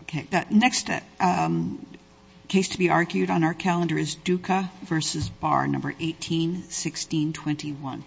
Okay, the next case to be argued on our calendar is Duka v. Barr, No. 18-1621.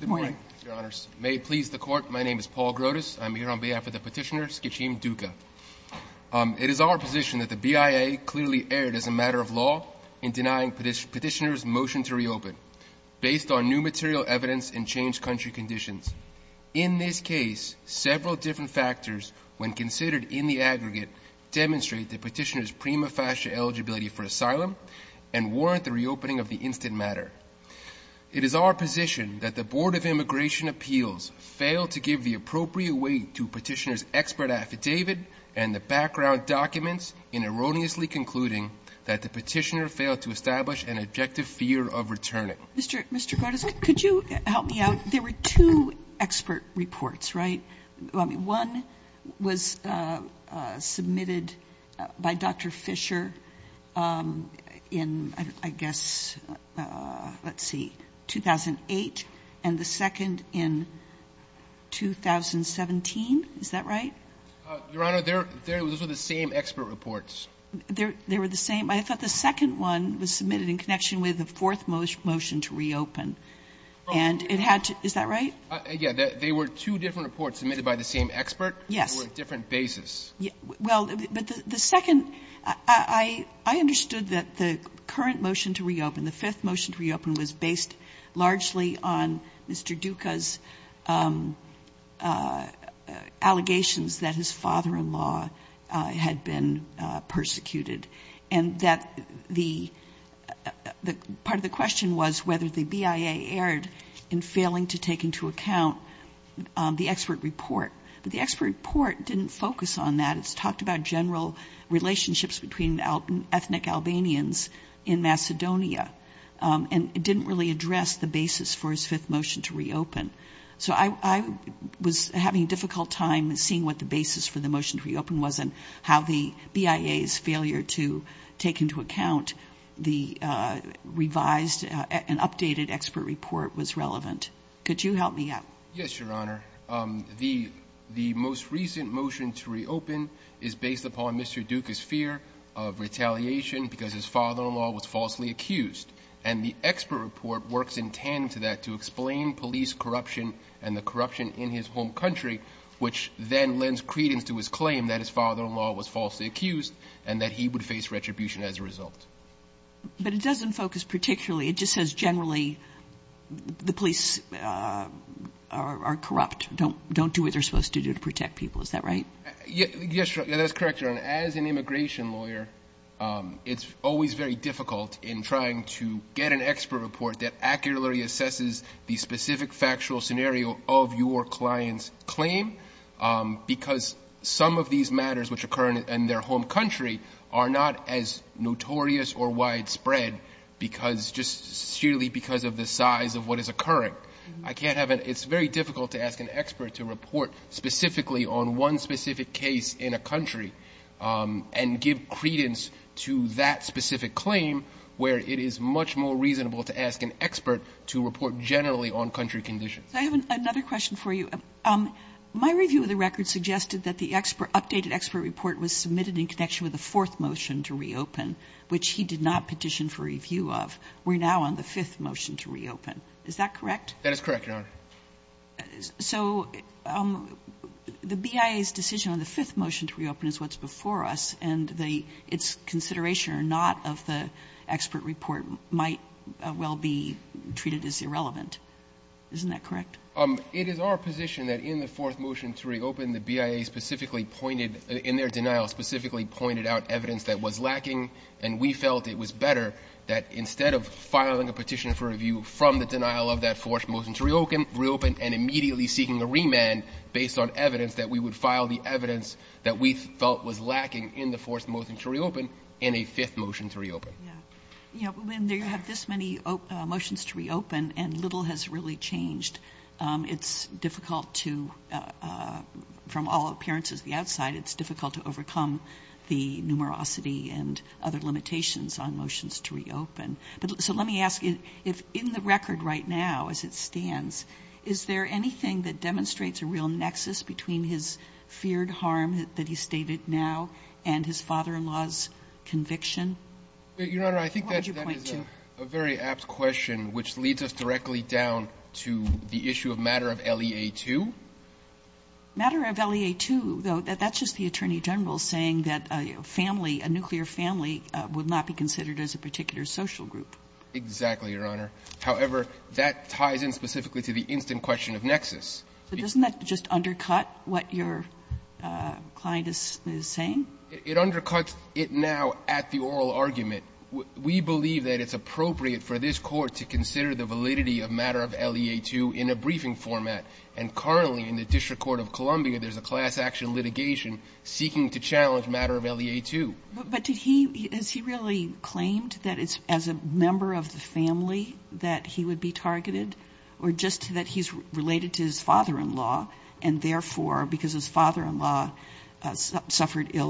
Good morning, Your Honors. May it please the Court, my name is Paul Grotus. I'm here on behalf of the petitioner, Skitchim Duka. It is our position that the BIA clearly erred as a matter of law in denying petitioner's motion to reopen, based on new material evidence and changed country conditions. In this case, several different factors, when considered in the aggregate, demonstrate the petitioner's prima facie eligibility for asylum and warrant the reopening of the instant matter. It is our position that the Board of Immigration Appeals failed to give the appropriate weight to petitioner's expert affidavit and the background documents in erroneously concluding that the petitioner failed to establish an objective fear of returning. Sotomayor, Mr. Grotus, could you help me out? There were two expert reports, right? One was submitted by Dr. Fisher in, I guess, let's see, 2008, and the second in 2017. Is that right? Your Honor, those were the same expert reports. They were the same. I thought the second one was submitted in connection with the fourth motion to reopen. And it had to be, is that right? Yes. They were two different reports submitted by the same expert. Yes. They were on different bases. Well, but the second, I understood that the current motion to reopen, the fifth motion to reopen, was based largely on Mr. Duca's allegations that his father-in-law had been persecuted. And that the, part of the question was whether the BIA erred in failing to take into account the expert report. But the expert report didn't focus on that. It's talked about general relationships between ethnic Albanians in Macedonia. And it didn't really address the basis for his fifth motion to reopen. So I was having a difficult time seeing what the basis for the motion to reopen was and how the BIA's failure to take into account the revised and updated expert report was relevant. Could you help me out? Yes, Your Honor. The most recent motion to reopen is based upon Mr. Duca's fear of retaliation because his father-in-law was falsely accused. And the expert report works in tandem to that to explain police corruption and the corruption in his home country, which then lends credence to his claim that his father-in-law was falsely accused and that he would face retribution as a result. But it doesn't focus particularly. It just says generally the police are corrupt, don't do what they're supposed to do to protect people. Is that right? Yes, Your Honor. That's correct, Your Honor. As an immigration lawyer, it's always very difficult in trying to get an expert report that accurately assesses the specific factual scenario of your client's claim. Because some of these matters which occur in their home country are not as notorious or widespread because just sheerly because of the size of what is occurring. I can't have it. It's very difficult to ask an expert to report specifically on one specific case in a country and give credence to that specific claim where it is much more reasonable to ask an expert to report generally on country conditions. I have another question for you. My review of the record suggested that the updated expert report was submitted in connection with the fourth motion to reopen, which he did not petition for review of. We're now on the fifth motion to reopen. Is that correct? That is correct, Your Honor. So the BIA's decision on the fifth motion to reopen is what's before us, and the its consideration or not of the expert report might well be treated as irrelevant. Isn't that correct? It is our position that in the fourth motion to reopen, the BIA specifically pointed, in their denial, specifically pointed out evidence that was lacking, and we felt it was better that instead of filing a petition for review from the denial of that fourth motion to reopen and immediately seeking a remand based on evidence that we would file the evidence that we felt was lacking in the fourth motion to reopen in a fifth motion to reopen. Yeah. You know, when you have this many motions to reopen and little has really changed, it's difficult to, from all appearances the outside, it's difficult to overcome the numerosity and other limitations on motions to reopen. So let me ask you, if in the record right now, as it stands, is there anything that demonstrates a real nexus between his feared harm that he stated now and his father-in-law's conviction? Your Honor, I think that is a very apt question, which leads us directly down to the issue of matter of LEA-2. Matter of LEA-2, though, that's just the Attorney General saying that a family, a nuclear family, would not be considered as a particular social group. Exactly, Your Honor. However, that ties in specifically to the instant question of nexus. But doesn't that just undercut what your client is saying? It undercuts it now at the oral argument. We believe that it's appropriate for this Court to consider the validity of matter of LEA-2 in a briefing format. And currently, in the District Court of Columbia, there's a class action litigation seeking to challenge matter of LEA-2. But did he, has he really claimed that it's as a member of the family that he would be targeted? Or just that he's related to his father-in-law, and therefore, because his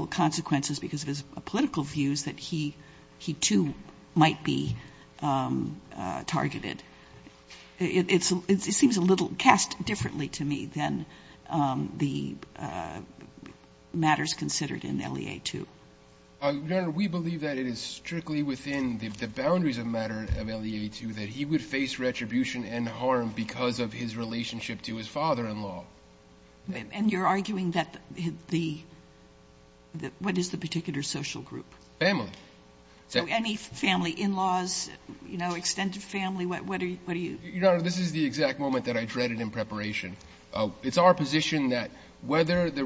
consequences, because of his political views, that he, he too might be targeted? It seems a little cast differently to me than the matters considered in LEA-2. Your Honor, we believe that it is strictly within the boundaries of matter of LEA-2 that he would face retribution and harm because of his relationship to his father-in-law. And you're arguing that the, what is the particular social group? Family. So any family, in-laws, you know, extended family, what are you? Your Honor, this is the exact moment that I dreaded in preparation. It's our position that whether the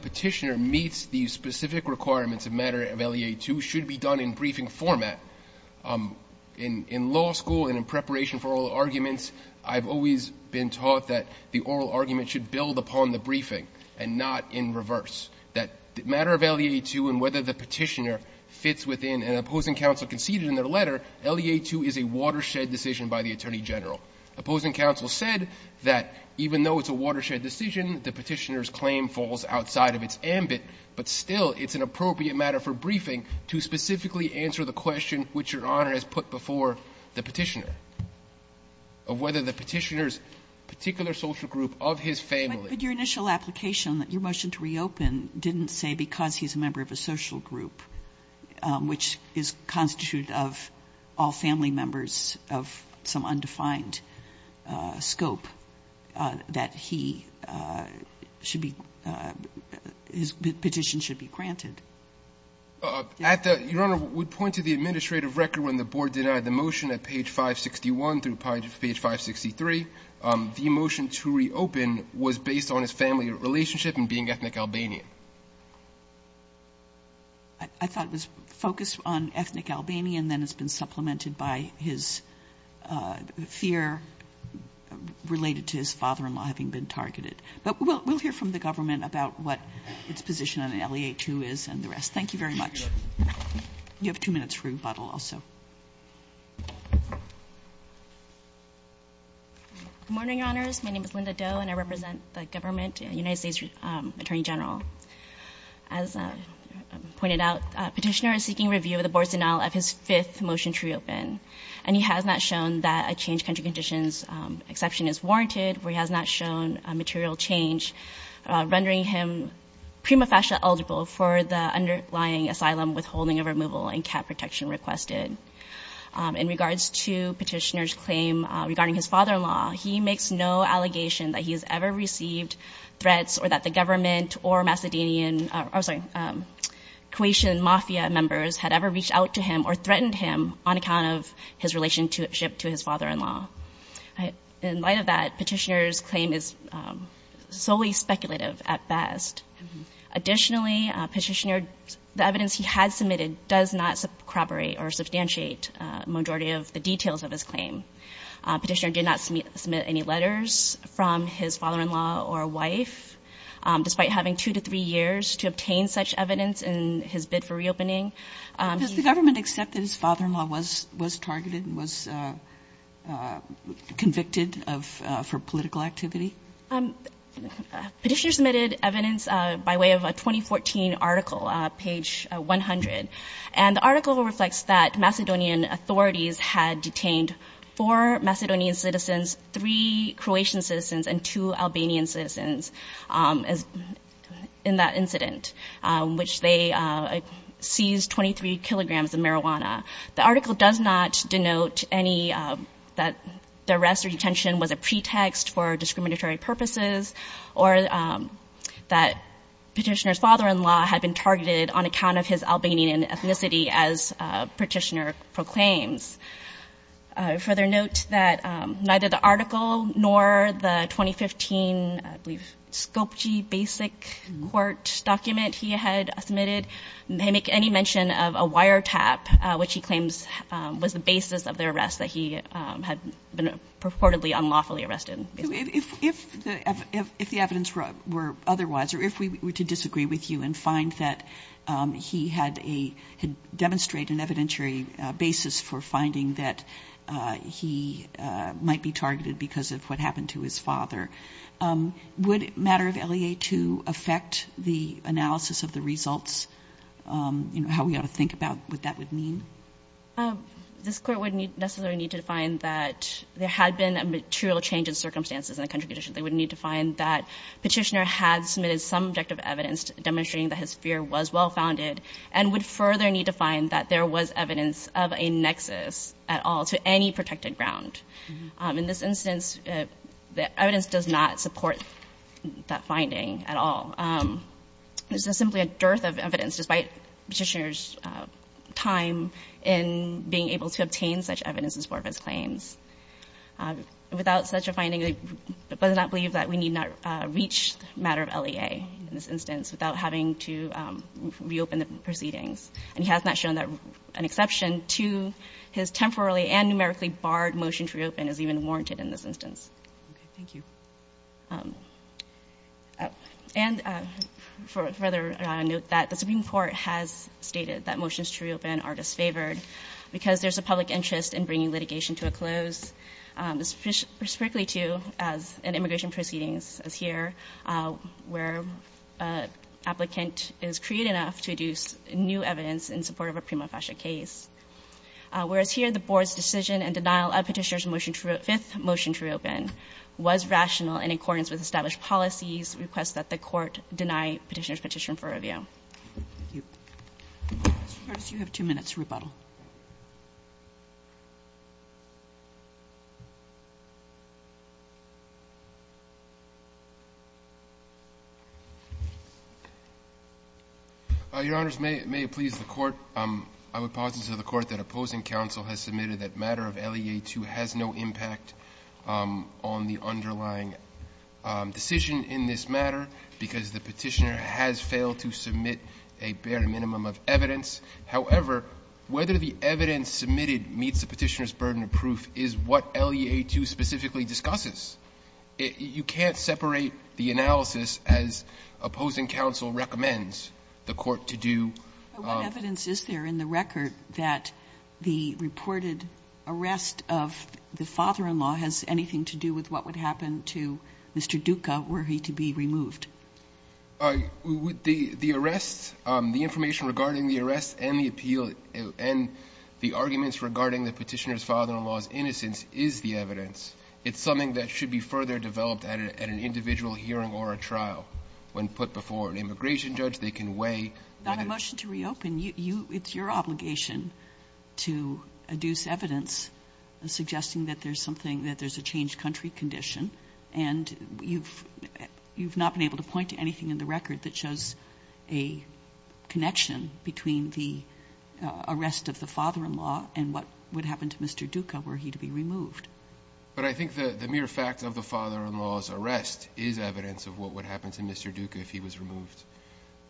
Petitioner meets the specific requirements of matter of LEA-2 should be done in briefing format. In law school and in preparation for oral arguments, I've always been taught that the oral argument should build upon the briefing and not in reverse. That matter of LEA-2 and whether the Petitioner fits within an opposing counsel conceded in their letter, LEA-2 is a watershed decision by the Attorney General. Opposing counsel said that even though it's a watershed decision, the Petitioner's claim falls outside of its ambit, but still, it's an appropriate matter for briefing to specifically answer the question which Your Honor has put before the Petitioner of whether the Petitioner's particular social group of his family. But your initial application, your motion to reopen, didn't say because he's a member of a social group, which is constituted of all family members of some undefined scope, that he should be, his petition should be granted. At the, Your Honor, we point to the administrative record when the Board denied the motion at page 516. The motion to reopen was based on his family relationship and being ethnic Albanian. I thought it was focused on ethnic Albanian, then it's been supplemented by his fear related to his father-in-law having been targeted. But we'll hear from the government about what its position on LEA-2 is and the rest. Thank you very much. You have two minutes for rebuttal also. Good morning, Your Honors. My name is Linda Doe, and I represent the government, United States Attorney General. As pointed out, Petitioner is seeking review of the Board's denial of his fifth motion to reopen. And he has not shown that a changed country conditions exception is warranted. He has not shown a material change rendering him prima facie eligible for the underlying asylum withholding of removal and cap protection requested. In regards to Petitioner's claim regarding his father-in-law, he makes no allegation that he has ever received threats or that the government or Macedonian, I'm sorry, Croatian mafia members had ever reached out to him or threatened him on account of his relationship to his father-in-law. In light of that, Petitioner's claim is solely speculative at best. Additionally, Petitioner, the evidence he had submitted does not corroborate or substantiate majority of the details of his claim. Petitioner did not submit any letters from his father-in-law or wife, despite having two to three years to obtain such evidence in his bid for reopening. Does the government accept that his father-in-law was targeted and was convicted for political activity? Petitioner submitted evidence by way of a 2014 article, page 100. And the article reflects that Macedonian authorities had detained four Macedonian citizens, three Croatian citizens, and two Albanian citizens in that incident, which they seized 23 kilograms of marijuana. The article does not denote any, that the arrest or the arrest was for military purposes, or that Petitioner's father-in-law had been targeted on account of his Albanian ethnicity, as Petitioner proclaims. Further note that neither the article nor the 2015, I believe, scope G basic court document he had submitted, may make any mention of a wiretap, which he claims was the basis of the arrest that he had been purportedly unlawfully arrested. If the evidence were otherwise, or if we were to disagree with you and find that he had a, had demonstrated an evidentiary basis for finding that he might be targeted because of what happened to his father, would matter of LEA II affect the analysis of the results, you know, how we ought to think about what that would mean? This Court wouldn't necessarily need to define that there had been a material change in circumstances in the country, they wouldn't need to find that Petitioner had submitted some objective evidence demonstrating that his fear was well-founded and would further need to find that there was evidence of a nexus at all to any protected ground. In this instance, the evidence does not support that finding at all. This is simply a dearth of evidence, despite Petitioner's time in being able to obtain such evidence in support of his claims. Without such a finding, it does not believe that we need not reach the matter of LEA in this instance without having to reopen the proceedings. And he has not shown that an exception to his temporally and numerically barred motion to reopen is even warranted in this instance. And for further note, that the Supreme Court has stated that motions to reopen are disfavored because there's a public interest in bringing litigation to a close specifically to, as in immigration proceedings as here, where an applicant is creative enough to deduce new evidence in support of a prima facie case. Whereas here, the Board's decision and denial of Petitioner's motion to reopen was rational in accordance with established policies, requests that the Court deny Petitioner's petition for review. Roberts, you have two minutes to rebuttal. Your Honors, may it please the Court, I would posit to the Court that opposing counsel has submitted that matter of LEA-2 has no impact on the underlying decision in this matter, because the Petitioner has failed to submit a bare minimum warranted or not, that is the question. The evidence submitted meets the Petitioner's burden of proof is what LEA-2 specifically discusses. You can't separate the analysis as opposing counsel recommends the Court to do. But what evidence is there in the record that the reported arrest of the father-in-law has anything to do with what would happen to Mr. Duca were he to be removed? The arrest, the information regarding the arrest and the appeal, and the arguments regarding the Petitioner's father-in-law's innocence is the evidence. It's something that should be further developed at an individual hearing or a trial. When put before an immigration judge, they can weigh whether it's true or not. Not a motion to reopen. It's your obligation to adduce evidence suggesting that there's something, that there's a changed country condition, and you've not been able to point to anything in the record that shows a connection between the arrest of the father-in-law and what would happen to Mr. Duca were he to be removed. But I think the mere fact of the father-in-law's arrest is evidence of what would happen to Mr. Duca if he was removed.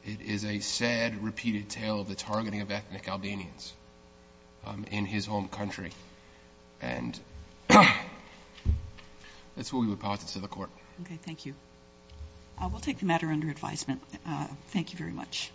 It is a sad, repeated tale of the targeting of ethnic Albanians in his home country. And that's what we would posit to the Court. Okay. Thank you. We'll take the matter under advisement. Thank you very much.